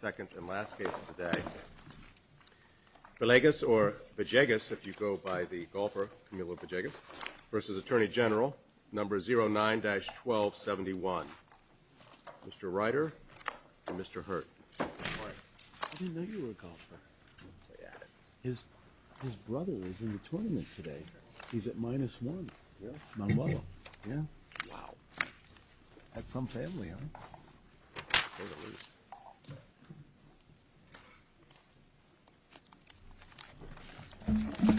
Second and last case of the day. Belegas or Bejegas if you go by the golfer Camilo Bejegas versus Attorney General number 09-1271. Mr. Ryder and Mr. Hurt. His brother is in the tournament today. He's at minus one. Yeah. Wow. That's some family, huh? Good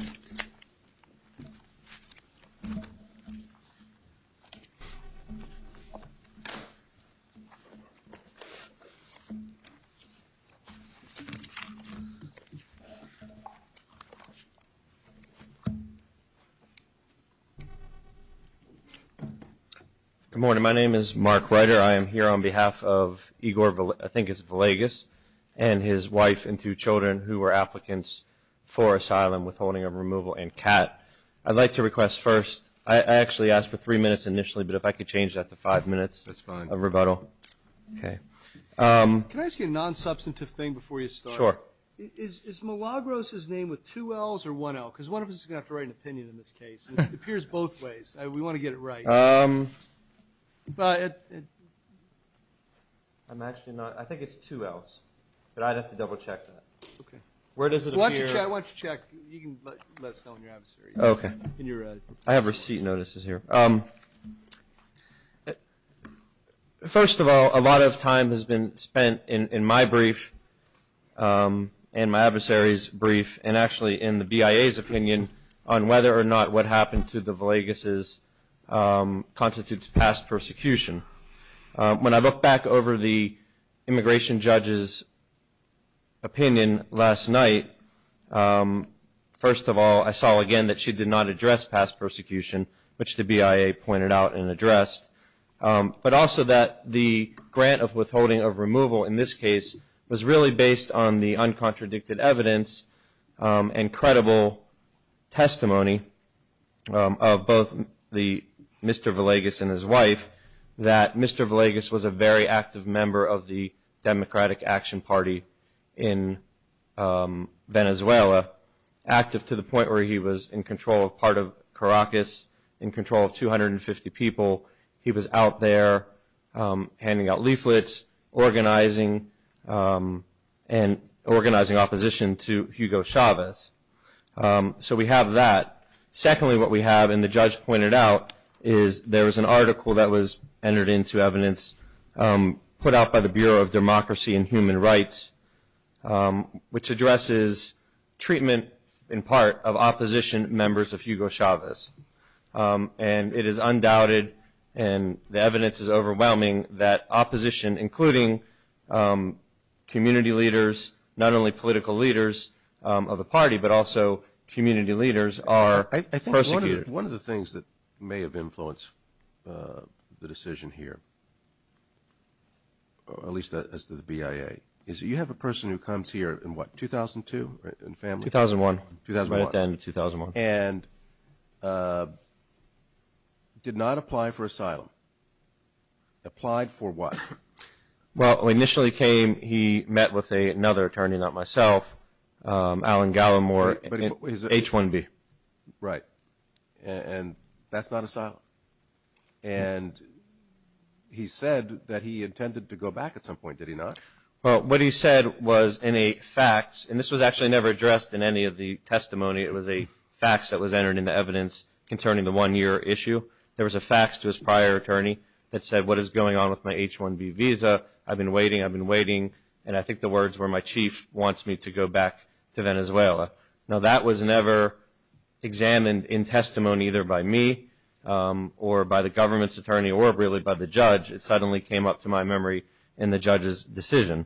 morning. My name is Mark Ryder. I am here on behalf of Igor, I think it's Belegas, and his wife and two children who were applicants for asylum withholding of removal and CAT. I'd like to request first, I actually asked for three minutes initially, but if I could change that to five minutes of rebuttal. Can I ask you a non-substantive thing before you start? Sure. Is Milagros' name with two L's or one L? Because one of us is going to have to write an opinion in this case. It appears both ways. We want to get it right. I'm actually not, I think it's two L's, but I'd have to double check that. Okay. Where does it appear? Why don't you check, you can let us know when you have it, sir. Okay. I have receipt notices here. First of all, a lot of time has been spent in my brief and my adversary's brief and actually in the BIA's opinion on whether or not what happened to the Belegas' constitutes past persecution. When I look back over the immigration judge's opinion last night, first of all, I saw again that she did not address past persecution, which the BIA pointed out and addressed, but also that the grant of withholding of removal in this case was really based on the uncontradicted evidence and credible testimony of both Mr. Belegas and his wife, that Mr. Belegas was a very active member of the Democratic Action Party in Venezuela, active to the point where he was in control of part of Caracas, in control of 250 people. He was out there handing out leaflets, organizing, and organizing opposition to Hugo Chavez. So we have that. Secondly, what we have, and the judge pointed out, is there was an article that was entered into evidence put out by the Bureau of Democracy and Human Rights, which addresses treatment in part of opposition members of Hugo Chavez. And it is undoubted, and the evidence is overwhelming, that opposition, including community leaders, not only political leaders of the party, but also community leaders, are persecuted. One of the things that may have influenced the decision here, at least as to the BIA, is you have a person who comes here in what, 2002? 2001. 2001. Right at the end of 2001. And did not apply for asylum. Applied for what? Well, when he initially came, he met with another attorney, not myself, Alan Gallimore, H-1B. Right. And that's not asylum. And he said that he intended to go back at some point, did he not? Well, what he said was in a fax, and this was actually never addressed in any of the testimony. It was a fax that was entered into evidence concerning the one-year issue. There was a fax to his prior attorney that said, what is going on with my H-1B visa? I've been waiting, I've been waiting. And I think the words were, my chief wants me to go back to Venezuela. Now, that was never examined in testimony either by me or by the government's attorney or really by the judge. It suddenly came up to my memory in the judge's decision.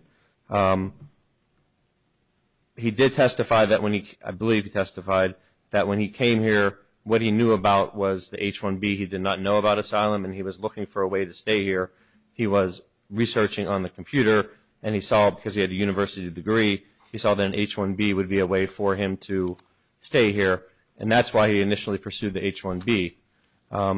He did testify that when he, I believe he testified that when he came here, what he knew about was the H-1B. He did not know about asylum, and he was looking for a way to stay here. He was researching on the computer, and he saw, because he had a university degree, he saw that an H-1B would be a way for him to stay here, and that's why he initially pursued the H-1B.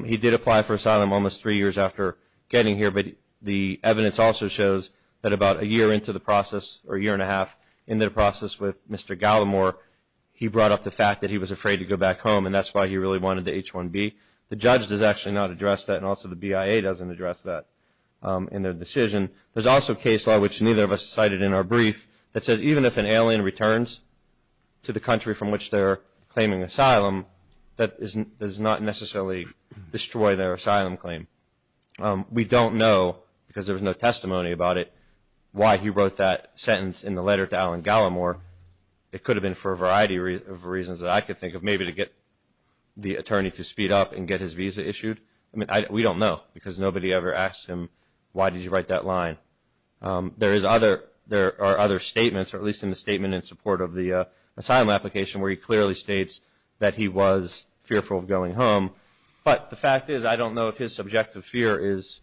He did apply for asylum almost three years after getting here, but the evidence also shows that about a year into the process or a year and a half into the process with Mr. Gallimore, he brought up the fact that he was afraid to go back home, and that's why he really wanted the H-1B. The judge does actually not address that, and also the BIA doesn't address that in their decision. There's also a case law, which neither of us cited in our brief, that says even if an alien returns to the country from which they're claiming asylum, that does not necessarily destroy their asylum claim. We don't know, because there was no testimony about it, why he wrote that sentence in the letter to Alan Gallimore. It could have been for a variety of reasons that I could think of, maybe to get the attorney to speed up and get his visa issued. I mean, we don't know, because nobody ever asked him, why did you write that line? There are other statements, or at least in the statement in support of the asylum application, where he clearly states that he was fearful of going home, but the fact is I don't know if his subjective fear is,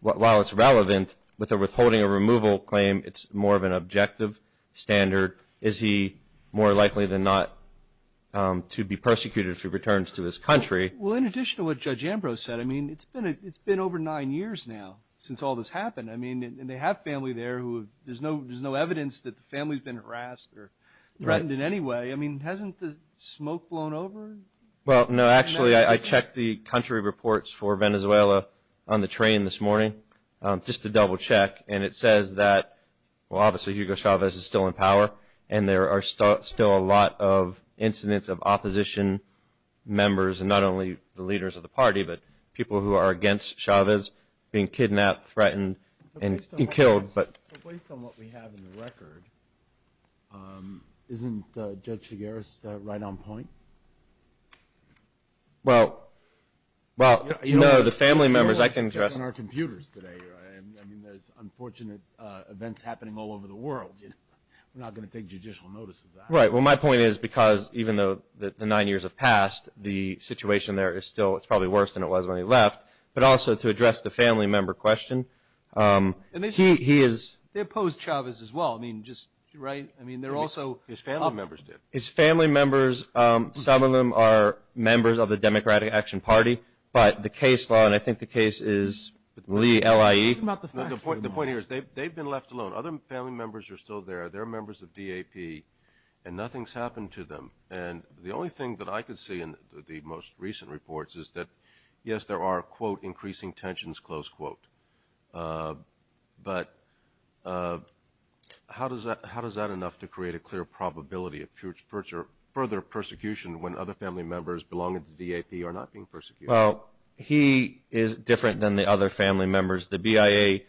while it's relevant, with a withholding or removal claim, it's more of an objective standard. Is he more likely than not to be persecuted if he returns to his country? Well, in addition to what Judge Ambrose said, I mean, it's been over nine years now since all this happened. I mean, they have family there. There's no evidence that the family's been harassed or threatened in any way. I mean, hasn't the smoke blown over? Well, no. Actually, I checked the country reports for Venezuela on the train this morning, just to double check, and it says that, well, obviously, Hugo Chavez is still in power, and there are still a lot of incidents of opposition members, and not only the leaders of the party, but people who are against Chavez being kidnapped, threatened, and killed. But based on what we have in the record, isn't Judge Chigueras right on point? Well, you know, the family members, I can address that. I mean, there's unfortunate events happening all over the world. We're not going to take judicial notice of that. Right. Well, my point is because even though the nine years have passed, the situation there is still – it's probably worse than it was when he left. But also to address the family member question, he is – They oppose Chavez as well. I mean, just – right? I mean, they're also – His family members did. His family members, some of them are members of the Democratic Action Party. But the case law – and I think the case is Lee, L-I-E. What about the facts? The point here is they've been left alone. Other family members are still there. They're members of DAP, and nothing's happened to them. And the only thing that I could see in the most recent reports is that, yes, there are, quote, increasing tensions, close quote. But how does that – how does that enough to create a clear probability of further persecution when other family members belonging to DAP are not being persecuted? Well, he is different than the other family members. The BIA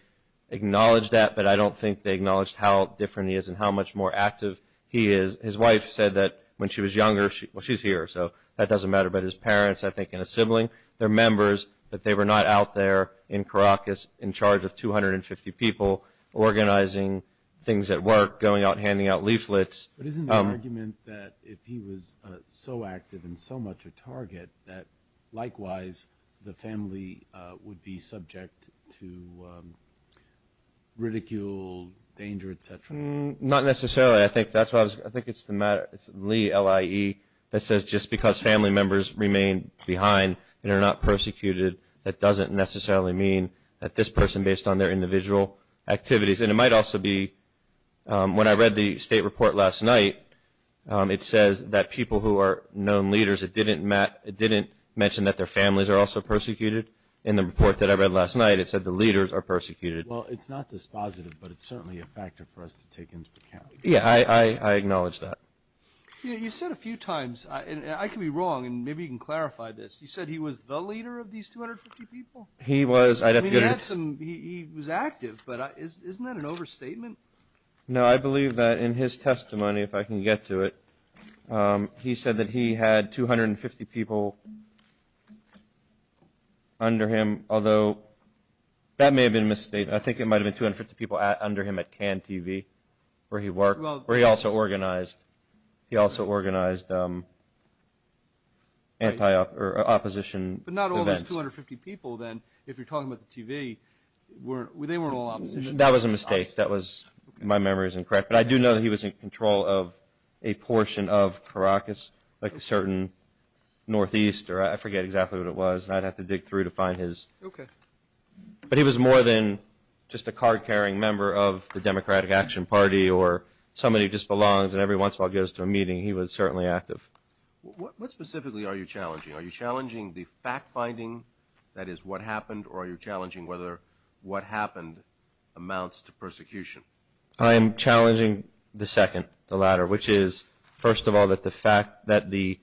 acknowledged that, but I don't think they acknowledged how different he is and how much more active he is. His wife said that when she was younger – well, she's here, so that doesn't matter. But his parents, I think, and a sibling, they're members, but they were not out there in Caracas in charge of 250 people organizing things at work, going out and handing out leaflets. But isn't the argument that if he was so active and so much a target, that likewise the family would be subject to ridicule, danger, et cetera? Not necessarily. I think that's what I was – I think it's the matter – it's Lee, L-I-E, that says just because family members remain behind and are not persecuted, that doesn't necessarily mean that this person, based on their individual activities – and it might also be – when I read the state report last night, it says that people who are known leaders, it didn't mention that their families are also persecuted. In the report that I read last night, it said the leaders are persecuted. Well, it's not dispositive, but it's certainly a factor for us to take into account. Yeah, I acknowledge that. You said a few times – and I could be wrong, and maybe you can clarify this – you said he was the leader of these 250 people? He was. He was active, but isn't that an overstatement? No, I believe that in his testimony, if I can get to it, he said that he had 250 people under him, although that may have been a misstatement. I think it might have been 250 people under him at CAN TV, where he worked, where he also organized – he also organized opposition events. But not all those 250 people, then, if you're talking about the TV, they weren't all opposition. That was a mistake. That was – my memory is incorrect. But I do know that he was in control of a portion of Caracas, like a certain northeast, or I forget exactly what it was, and I'd have to dig through to find his – Okay. But he was more than just a card-carrying member of the Democratic Action Party or somebody who just belongs and every once in a while goes to a meeting. He was certainly active. What specifically are you challenging? Are you challenging the fact-finding, that is, what happened, or are you challenging whether what happened amounts to persecution? I am challenging the second, the latter, which is, first of all, that the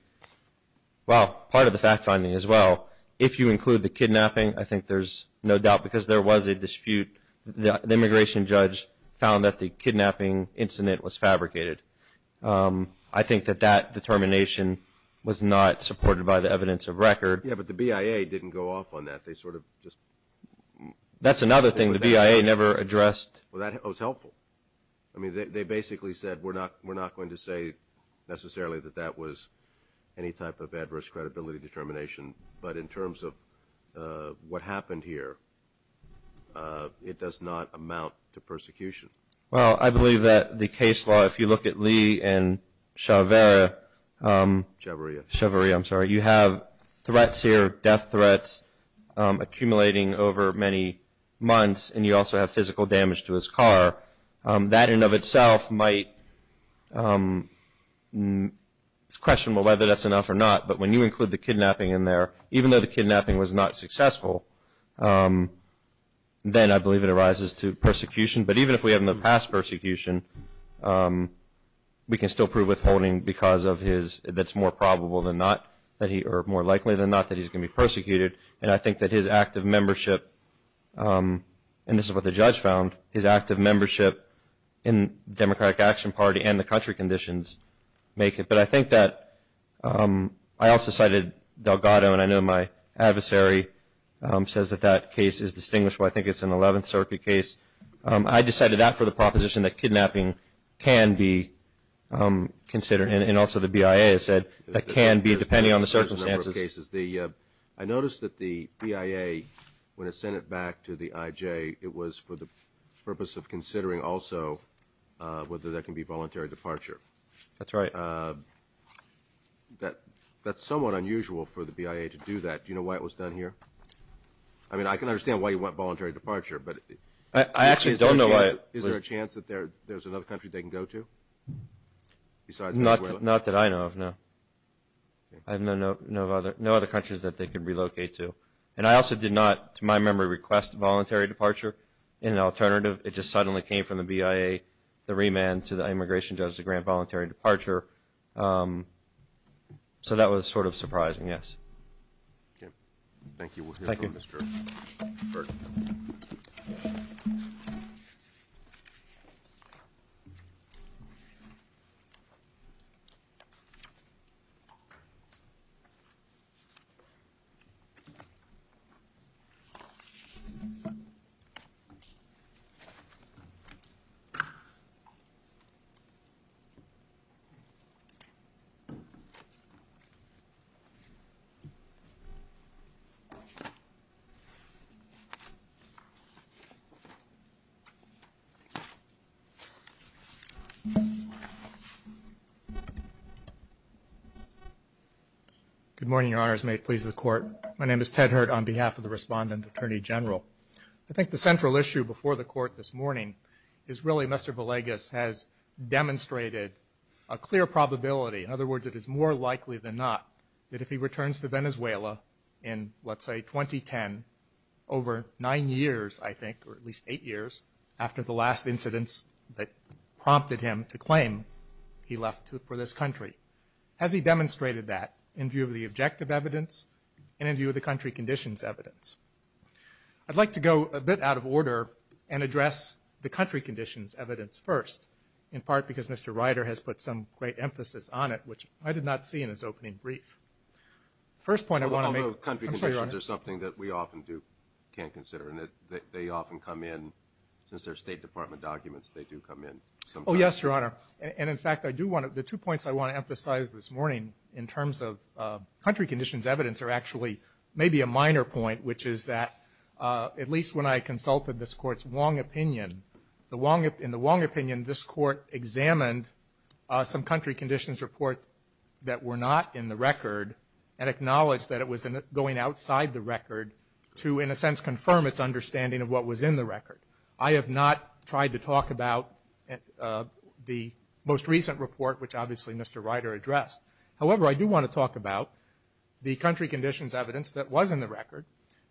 – well, part of the fact-finding as well, if you include the kidnapping, I think there's no doubt because there was a dispute. The immigration judge found that the kidnapping incident was fabricated. I think that that determination was not supported by the evidence of record. Yeah, but the BIA didn't go off on that. They sort of just – That's another thing. The BIA never addressed – Well, that was helpful. I mean, they basically said, we're not going to say necessarily that that was any type of adverse credibility determination. But in terms of what happened here, it does not amount to persecution. Well, I believe that the case law, if you look at Lee and Chavarria – Chavarria. Chavarria, I'm sorry. You have threats here, death threats, accumulating over many months, and you also have physical damage to his car. That in and of itself might – it's questionable whether that's enough or not. But when you include the kidnapping in there, even though the kidnapping was not successful, then I believe it arises to persecution. But even if we have no past persecution, we can still prove withholding because of his – that's more probable than not that he – or more likely than not that he's going to be persecuted. And I think that his active membership – and this is what the judge found – his active membership in the Democratic Action Party and the country conditions make it. But I think that – I also cited Delgado, and I know my adversary says that that case is distinguishable. I think it's an 11th Circuit case. I decided that for the proposition that kidnapping can be considered, and also the BIA has said that can be, depending on the circumstances. There's a certain number of cases. I noticed that the BIA, when it sent it back to the IJ, it was for the purpose of considering also whether that can be voluntary departure. That's right. That's somewhat unusual for the BIA to do that. Do you know why it was done here? I mean, I can understand why you want voluntary departure, but – I actually don't know why it was – Is there a chance that there's another country they can go to besides Venezuela? Not that I know of, no. I have no other countries that they can relocate to. And I also did not, to my memory, request voluntary departure in an alternative. It just suddenly came from the BIA, the remand, to the immigration judge to grant voluntary departure. So that was sort of surprising, yes. Okay. Thank you. We'll hear from Mr. Berg. Good morning, Your Honors. May it please the Court. My name is Ted Hurt on behalf of the Respondent Attorney General. I think the central issue before the Court this morning is really Mr. Villegas has demonstrated a clear probability, in other words, it is more likely than not, that if he returns to Venezuela in, let's say, 2010, over nine years, I think, or at least eight years after the last incidents that prompted him to claim he left for this country. Has he demonstrated that in view of the objective evidence and in view of the country conditions evidence? I'd like to go a bit out of order and address the country conditions evidence first, in part because Mr. Ryder has put some great emphasis on it, which I did not see in his opening brief. First point I want to make. Although country conditions are something that we often can't consider, and they often come in, since they're State Department documents, they do come in sometimes. Oh, yes, Your Honor. And, in fact, the two points I want to emphasize this morning in terms of country conditions evidence are actually maybe a minor point, which is that at least when I consulted this Court's Wong opinion, in the Wong opinion this Court examined some country conditions report that were not in the record and acknowledged that it was going outside the record to, in a sense, confirm its understanding of what was in the record. I have not tried to talk about the most recent report, which obviously Mr. Ryder addressed. However, I do want to talk about the country conditions evidence that was in the record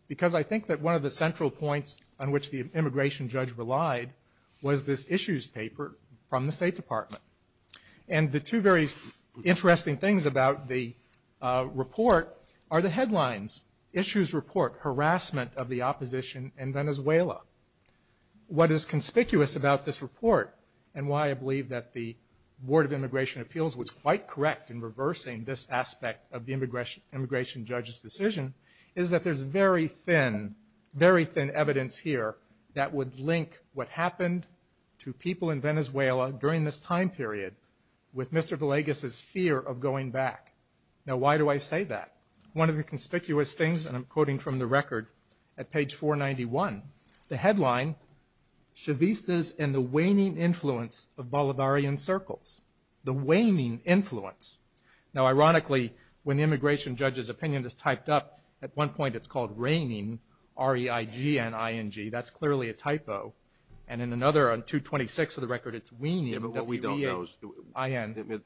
because I think that one of the central points on which the immigration judge relied was this issues paper from the State Department. And the two very interesting things about the report are the headlines, issues report, harassment of the opposition in Venezuela. What is conspicuous about this report and why I believe that the Board of Immigration Appeals was quite correct in reversing this aspect of the immigration judge's decision is that there's very thin, very thin evidence here that would link what happened to people in Venezuela during this time period with Mr. Villegas' fear of going back. Now, why do I say that? One of the conspicuous things, and I'm quoting from the record at page 491, the headline, Chavistas and the waning influence of Bolivarian circles. The waning influence. Now, ironically, when the immigration judge's opinion is typed up, at one point it's called waning, R-E-I-G-N-I-N-G. That's clearly a typo. And in another, on 226 of the record, it's waning, W-E-H-I-N.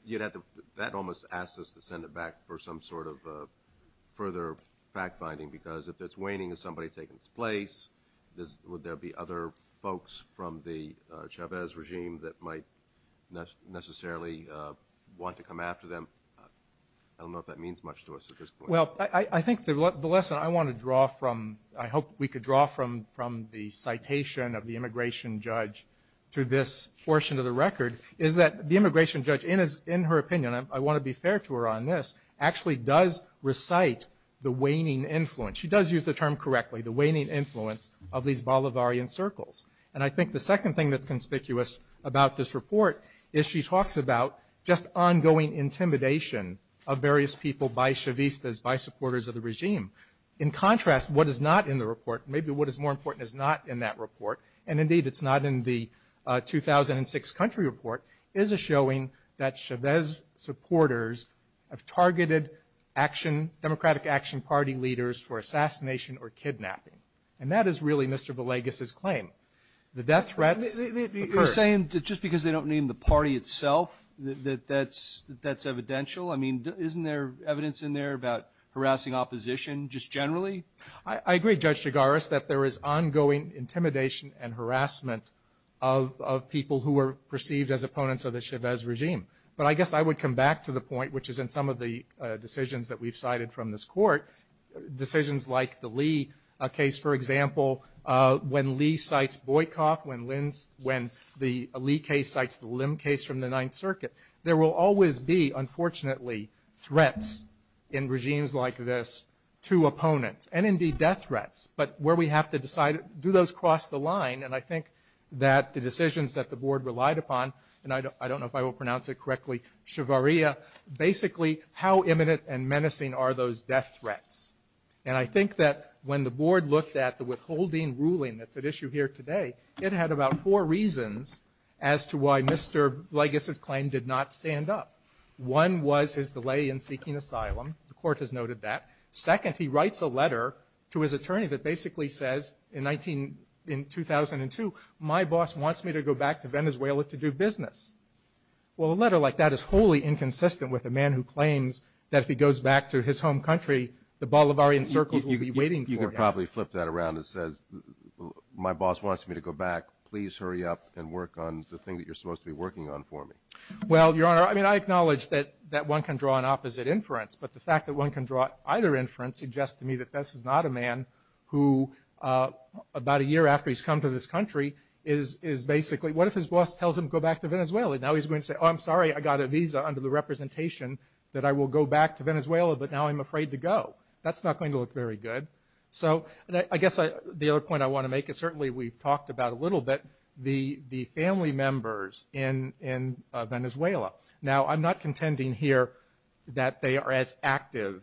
That almost asks us to send it back for some sort of further fact-finding because if it's waning, is somebody taking its place? Would there be other folks from the Chavez regime that might necessarily want to come after them? I don't know if that means much to us at this point. Well, I think the lesson I want to draw from, I hope we could draw from the citation of the immigration judge to this portion of the record, is that the immigration judge, in her opinion, I want to be fair to her on this, actually does recite the waning influence. She does use the term correctly, the waning influence of these Bolivarian circles. And I think the second thing that's conspicuous about this report is she In contrast, what is not in the report, maybe what is more important is not in that report, and indeed it's not in the 2006 country report, is a showing that Chavez supporters have targeted action, Democratic Action Party leaders for assassination or kidnapping. And that is really Mr. Villegas' claim. The death threats occur. You're saying just because they don't name the party itself that that's evidential? I mean, isn't there evidence in there about harassing opposition just generally? I agree, Judge Chigaris, that there is ongoing intimidation and harassment of people who are perceived as opponents of the Chavez regime. But I guess I would come back to the point, which is in some of the decisions that we've cited from this Court, decisions like the Lee case, for example, when Lee cites Boykoff, when the Lee case cites the Lim case from the Ninth Circuit, there will always be, unfortunately, threats in regimes like this to opponents, and indeed death threats. But where we have to decide, do those cross the line? And I think that the decisions that the Board relied upon, and I don't know if I will pronounce it correctly, Shavaria, basically how imminent and menacing are those death threats? And I think that when the Board looked at the withholding ruling that's at issue here today, it had about four reasons as to why Mr. Boykoff did not stand up. One was his delay in seeking asylum. The Court has noted that. Second, he writes a letter to his attorney that basically says in 2002, my boss wants me to go back to Venezuela to do business. Well, a letter like that is wholly inconsistent with a man who claims that if he goes back to his home country, the Bolivarian circles will be waiting for him. You could probably flip that around and say, my boss wants me to go back. Please hurry up and work on the thing that you're supposed to be working on for this country. Well, Your Honor, I mean, I acknowledge that one can draw an opposite inference, but the fact that one can draw either inference suggests to me that this is not a man who about a year after he's come to this country is basically, what if his boss tells him to go back to Venezuela? Now he's going to say, oh, I'm sorry, I got a visa under the representation that I will go back to Venezuela, but now I'm afraid to go. That's not going to look very good. So I guess the other point I want to make is certainly we've talked about a little bit the family members in Venezuela. Now, I'm not contending here that they are as active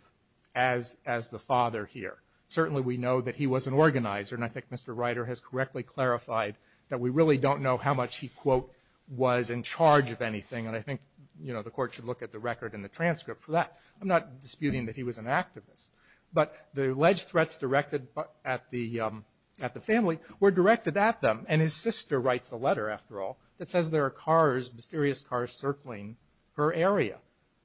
as the father here. Certainly we know that he was an organizer, and I think Mr. Reiter has correctly clarified that we really don't know how much he, quote, was in charge of anything. And I think, you know, the Court should look at the record and the transcript for that. I'm not disputing that he was an activist. But the alleged threats directed at the family were directed at them. And his sister writes a letter, after all, that says there are cars, mysterious cars circling her area.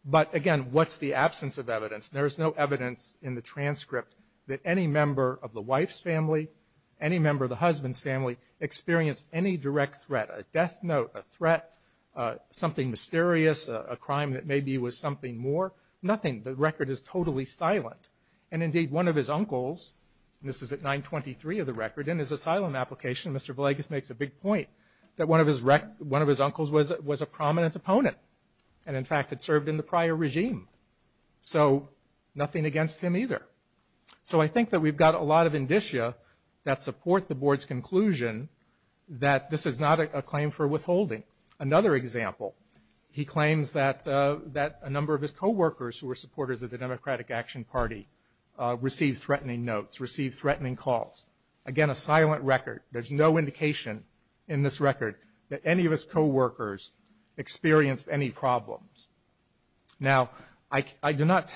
But, again, what's the absence of evidence? There is no evidence in the transcript that any member of the wife's family, any member of the husband's family experienced any direct threat, a death note, a threat, something mysterious, a crime that maybe was something more. Nothing. The record is totally silent. And, indeed, one of his uncles, and this is at 923 of the record, in his asylum application, Mr. Villegas makes a big point, that one of his uncles was a prominent opponent and, in fact, had served in the prior regime. So nothing against him either. So I think that we've got a lot of indicia that support the Board's conclusion that this is not a claim for withholding. Another example, he claims that a number of his co-workers who were supporters of the Democratic Action Party received threatening notes, received threatening calls. Again, a silent record. There's no indication in this record that any of his co-workers experienced any problems. Now, I cannot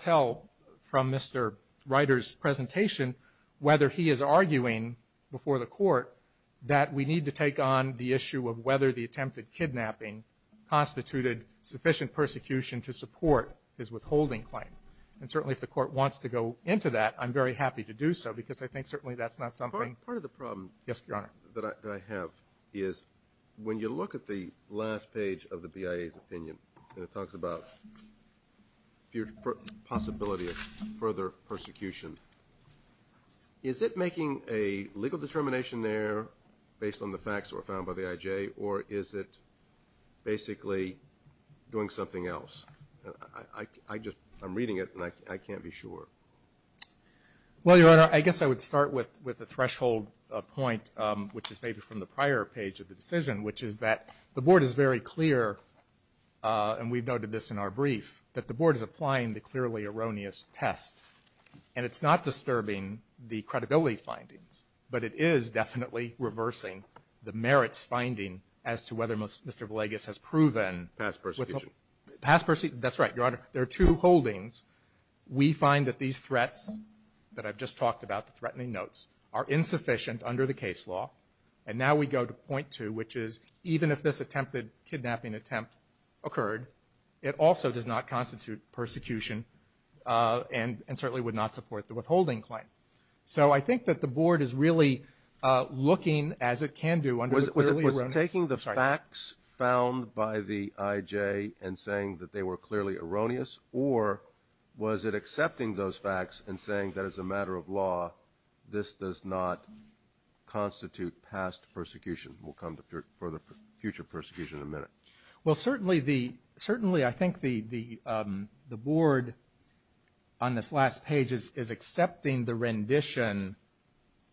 tell from Mr. Ryder's presentation whether he is arguing before the Court that we need to take on the issue of whether the attempted kidnapping constituted sufficient persecution to support his withholding claim. And, certainly, if the Court wants to go into that, I'm very happy to do so, because I think certainly that's not something. Part of the problem that I have is when you look at the last page of the BIA's opinion, and it talks about the possibility of further persecution, is it making a legal determination there based on the facts that were found by the IJ, or is it basically doing something else? I'm reading it, and I can't be sure. Well, Your Honor, I guess I would start with a threshold point, which is maybe from the prior page of the decision, which is that the Board is very clear, and we've noted this in our brief, that the Board is applying the clearly erroneous test. And it's not disturbing the credibility findings, but it is definitely reversing the merits finding as to whether Mr. Villegas has proven – Past persecution. That's right, Your Honor. There are two holdings. We find that these threats that I've just talked about, the threatening notes, are insufficient under the case law, and now we go to point two, which is even if this attempted kidnapping attempt occurred, it also does not constitute persecution and certainly would not support the withholding claim. So I think that the Board is really looking, as it can do, under the clearly erroneous – Was it taking the facts found by the IJ and saying that they were clearly erroneous, or was it accepting those facts and saying that as a matter of law, this does not constitute past persecution? We'll come to future persecution in a minute. Well, certainly the – certainly I think the Board, on this last page, is accepting the rendition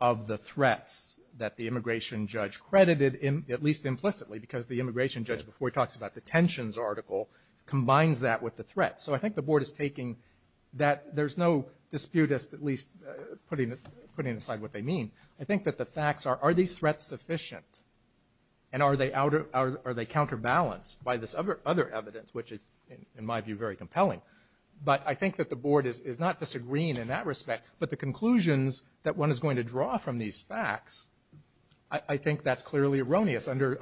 of the threats that the immigration judge credited, at least implicitly, because the immigration judge before talks about the tensions article combines that with the threat. So I think the Board is taking that. There's no dispute, at least, putting aside what they mean. I think that the facts are, are these threats sufficient, and are they counterbalanced by this other evidence, which is, in my view, very compelling. But I think that the Board is not disagreeing in that respect, but the conclusions that one is going to draw from these facts, I think that's clearly erroneous under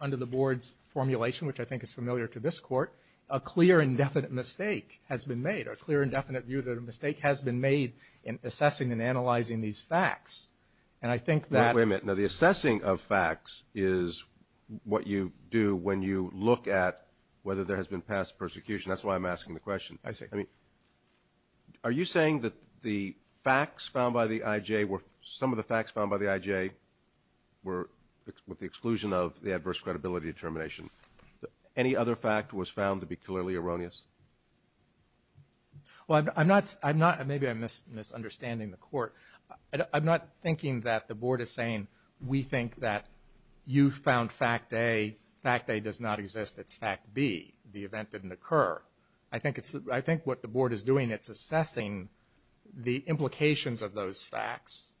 the Board's formulation, which I think is familiar to this Court. A clear and definite mistake has been made, a clear and definite view that a mistake has been made in assessing and analyzing these facts. And I think that – Wait a minute. Now, the assessing of facts is what you do when you look at whether there has been past persecution. That's why I'm asking the question. I see. I mean, are you saying that the facts found by the IJ were – some of the facts found by the IJ were with the exclusion of the adverse credibility determination. Any other fact was found to be clearly erroneous? Well, I'm not – I'm not – maybe I'm misunderstanding the Court. I'm not thinking that the Board is saying we think that you found fact A, fact A does not exist, it's fact B, the event didn't occur. I think it's – I think what the Board is doing, it's assessing the implications of those facts,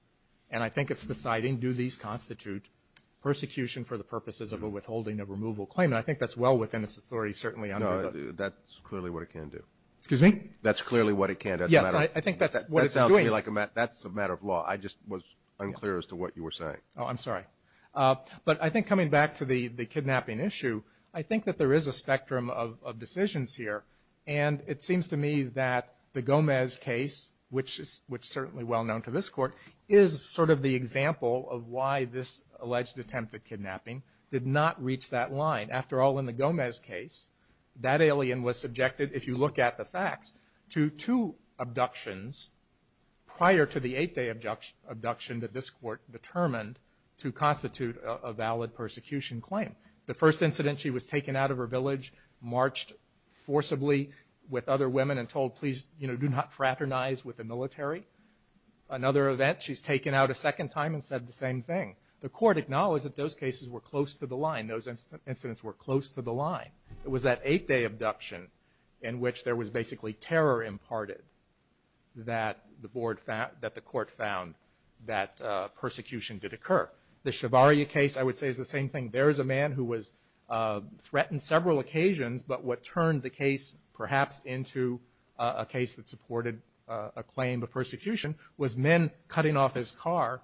and I think it's deciding do these constitute persecution for the purposes of a withholding of removal claim. And I think that's well within its authority, certainly. No, that's clearly what it can do. Excuse me? That's clearly what it can do. Yes, I think that's what it's doing. That's a matter of law. I just was unclear as to what you were saying. Oh, I'm sorry. But I think coming back to the kidnapping issue, I think that there is a spectrum of decisions here, and it seems to me that the Gomez case, which is certainly well known to this Court, is sort of the example of why this alleged attempt at kidnapping did not reach that line. After all, in the Gomez case, that alien was subjected, if you look at the facts, to two abductions prior to the eight-day abduction that this Court determined to constitute a valid persecution claim. The first incident, she was taken out of her village, marched forcibly with other women and told, please, you know, do not fraternize with the military. Another event, she's taken out a second time and said the same thing. The Court acknowledged that those cases were close to the line. Those incidents were close to the line. It was that eight-day abduction in which there was basically terror imparted that the Court found that persecution did occur. The Shavaria case, I would say, is the same thing. There is a man who was threatened several occasions, but what turned the case perhaps into a case that supported a claim of persecution was men cutting off his car,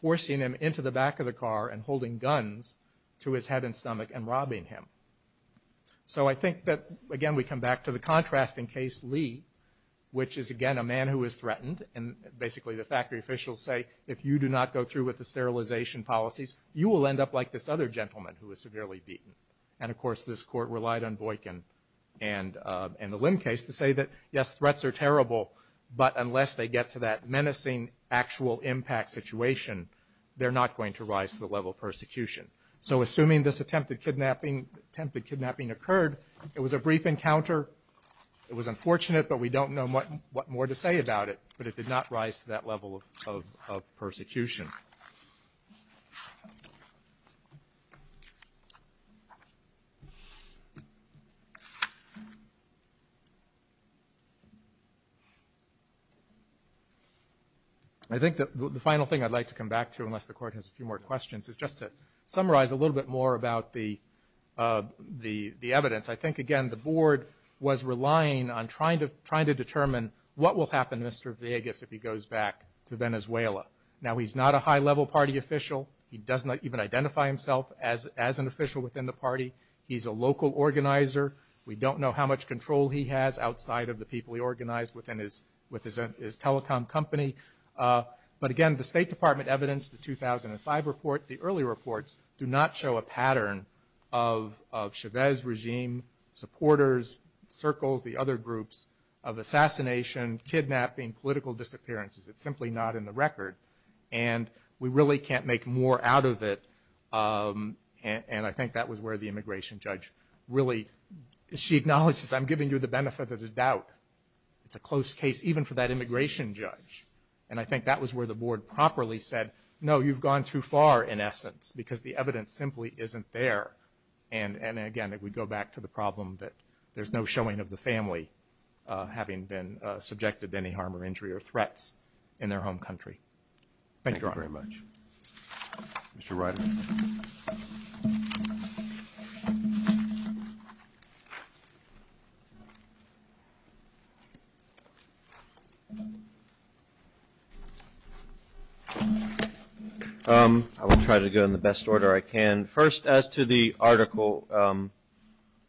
forcing him into the back of the car and holding guns to his head and stomach and robbing him. So I think that, again, we come back to the contrast in Case Lee, which is, again, a man who was threatened, and basically the factory officials say, if you do not go through with the sterilization policies, you will end up like this other gentleman who was severely beaten. And, of course, this Court relied on Boykin and the Lim case to say that, yes, threats are terrible, but unless they get to that menacing actual impact situation, they're not going to rise to the level of persecution. So assuming this attempted kidnapping occurred, it was a brief encounter. It was unfortunate, but we don't know what more to say about it, but it did not rise to that level of persecution. I think the final thing I'd like to come back to, unless the Court has a few more questions, is just to summarize a little bit more about the evidence. I think, again, the Board was relying on trying to determine what will happen to Mr. Vegas if he goes back to Venezuela. Now, he's not a high-level party official. He does not even identify himself as an official within the party. He's a local organizer. We don't know how much control he has outside of the people he organized within his telecom company. But, again, the State Department evidence, the 2005 report, the early reports do not show a pattern of Chavez regime supporters, circles, the other groups of assassination, kidnapping, political disappearances. It's simply not in the record. And we really can't make more out of it, and I think that was where the immigration judge really, she acknowledges, I'm giving you the benefit of the doubt. It's a close case, even for that immigration judge. And I think that was where the Board properly said, no, you've gone too far, in essence, because the evidence simply isn't there. And, again, if we go back to the problem that there's no showing of the family having been subjected to any harm or injury or threats in their home country. Thank you, Your Honor. Thank you very much. Mr. Ryder. I will try to go in the best order I can. First, as to the article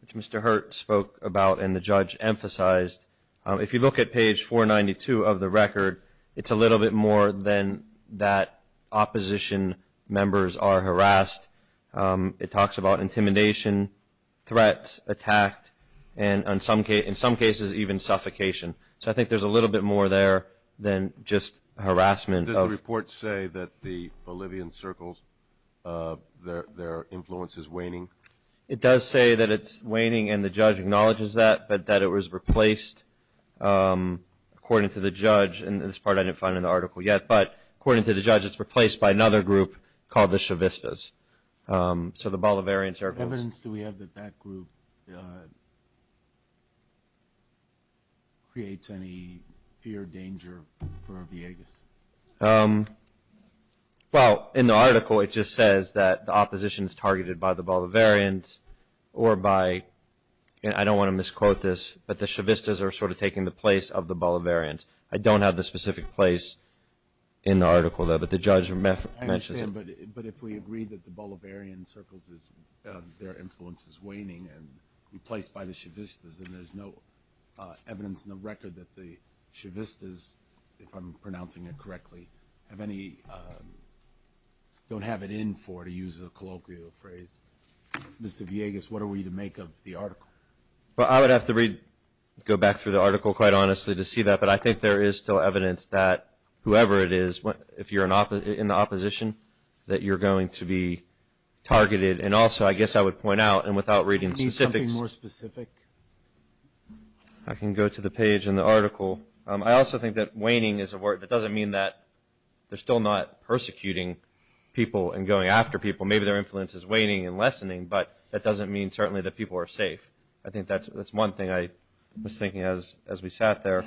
which Mr. Hurt spoke about and the judge emphasized, if you look at page 492 of the record, it's a little bit more than that opposition members are harassed. It talks about intimidation, threats, attack, and in some cases even suffocation. So I think there's a little bit more there than just harassment. Does the report say that the Bolivian circles, their influence is waning? It does say that it's waning, and the judge acknowledges that, but that it was replaced, according to the judge, and this part I didn't find in the article yet, but according to the judge it's replaced by another group called the Chavistas. So the Bolivarian circles. What evidence do we have that that group creates any fear, danger for Villegas? Well, in the article it just says that the opposition is targeted by the Bolivarians or by, and I don't want to misquote this, but the Chavistas are sort of taking the place of the Bolivarians. I don't have the specific place in the article there, but the judge mentions it. I understand, but if we agree that the Bolivarian circles, their influence is waning and replaced by the Chavistas and there's no evidence in the record that the Chavistas, if I'm pronouncing it correctly, have any, don't have it in for, to use a colloquial phrase. Mr. Villegas, what are we to make of the article? Well, I would have to read, go back through the article quite honestly to see that, but I think there is still evidence that whoever it is, if you're in the opposition, that you're going to be targeted, and also I guess I would point out, and without reading specifics. Can you say something more specific? I can go to the page in the article. I also think that waning is a word that doesn't mean that they're still not persecuting people and going after people. Maybe their influence is waning and lessening, but that doesn't mean certainly that people are safe. I think that's one thing I was thinking as we sat there,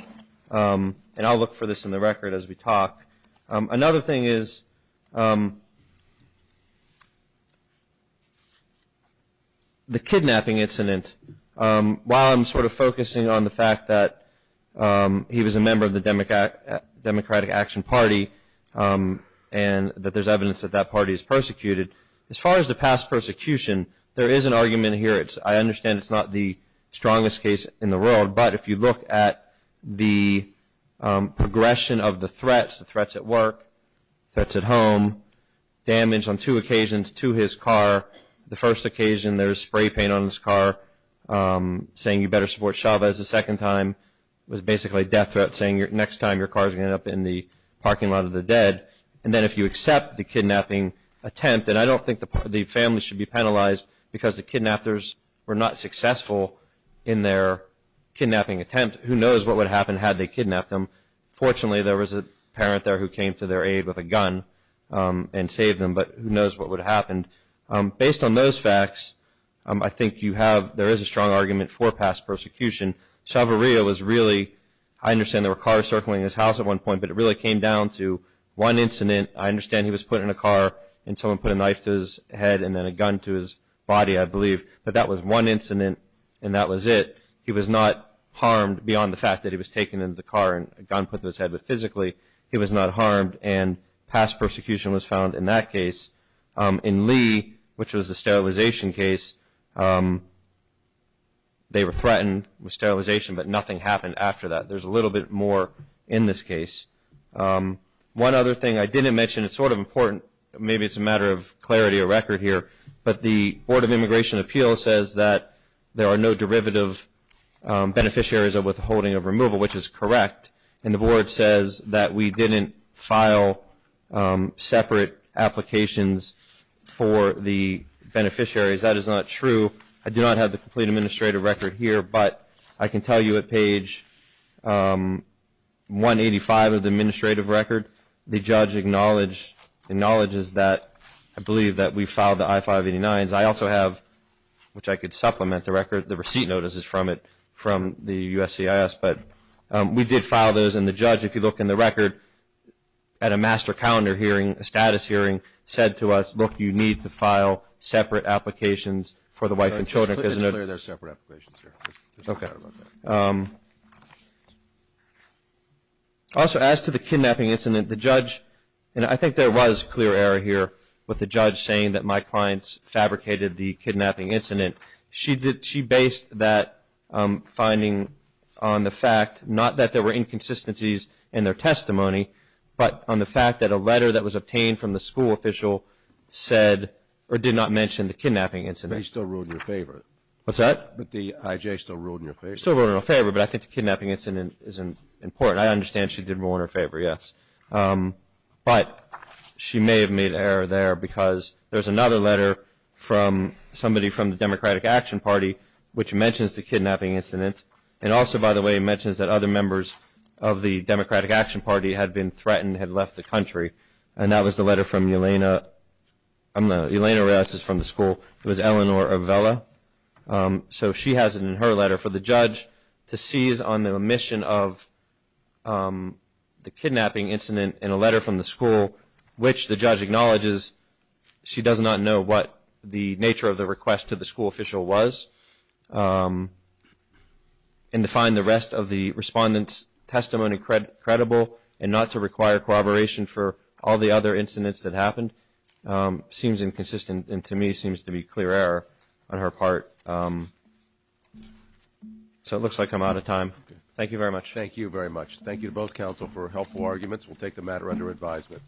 and I'll look for this in the record as we talk. Another thing is the kidnapping incident. While I'm sort of focusing on the fact that he was a member of the Democratic Action Party and that there's evidence that that party is persecuted, as far as the past persecution, there is an argument here. I understand it's not the strongest case in the world, but if you look at the progression of the threats, the threats at work, threats at home, damage on two occasions to his car, the first occasion there's spray paint on his car saying you better support Chavez. The second time was basically death threats saying next time your car's going to end up in the parking lot of the dead. And then if you accept the kidnapping attempt, and I don't think the family should be penalized because the kidnappers were not successful in their kidnapping attempt. Who knows what would happen had they kidnapped him. Fortunately, there was a parent there who came to their aid with a gun and saved him, but who knows what would have happened. Based on those facts, I think you have, there is a strong argument for past persecution. Chavarria was really, I understand there were cars circling his house at one point, but it really came down to one incident. I understand he was put in a car and someone put a knife to his head and then a gun to his body, I believe. But that was one incident and that was it. He was not harmed beyond the fact that he was taken into the car and a gun put to his head, but physically he was not harmed and past persecution was found in that case. In Lee, which was the sterilization case, they were threatened with sterilization, but nothing happened after that. There's a little bit more in this case. One other thing I didn't mention, it's sort of important, maybe it's a matter of clarity of record here, but the Board of Immigration Appeals says that there are no derivative beneficiaries of withholding of removal, which is correct. And the Board says that we didn't file separate applications for the beneficiaries. That is not true. I do not have the complete administrative record here, but I can tell you at page 185 of the administrative record, the judge acknowledges that I believe that we filed the I-589s. I also have, which I could supplement the record, the receipt notice is from it, from the USCIS, but we did file those, and the judge, if you look in the record, at a master calendar hearing, a status hearing, said to us, look, you need to file separate applications for the wife and children. It's clear there are separate applications here. Okay. Also, as to the kidnapping incident, the judge, and I think there was clear error here with the judge saying that my clients fabricated the kidnapping incident. She based that finding on the fact, not that there were inconsistencies in their testimony, but on the fact that a letter that was obtained from the school official said or did not mention the kidnapping incident. But he still ruled in your favor. What's that? But the IJ still ruled in your favor. Still ruled in her favor, but I think the kidnapping incident is important. I understand she did rule in her favor, yes. But she may have made an error there because there's another letter from somebody from the Democratic Action Party which mentions the kidnapping incident, and also, by the way, mentions that other members of the Democratic Action Party had been threatened, had left the country, and that was the letter from Yelena, I'm not, Yelena Reyes is from the school. It was Eleanor Avella. So she has it in her letter for the judge to seize on the omission of the kidnapping incident in a letter from the school which the judge acknowledges she does not know what the nature of the request to the school official was, and to find the rest of the respondent's testimony credible and not to require corroboration for all the other incidents that happened seems inconsistent, and to me seems to be clear error on her part. So it looks like I'm out of time. Thank you very much. Thank you very much. Thank you to both counsel for helpful arguments. We'll take the matter under advisement.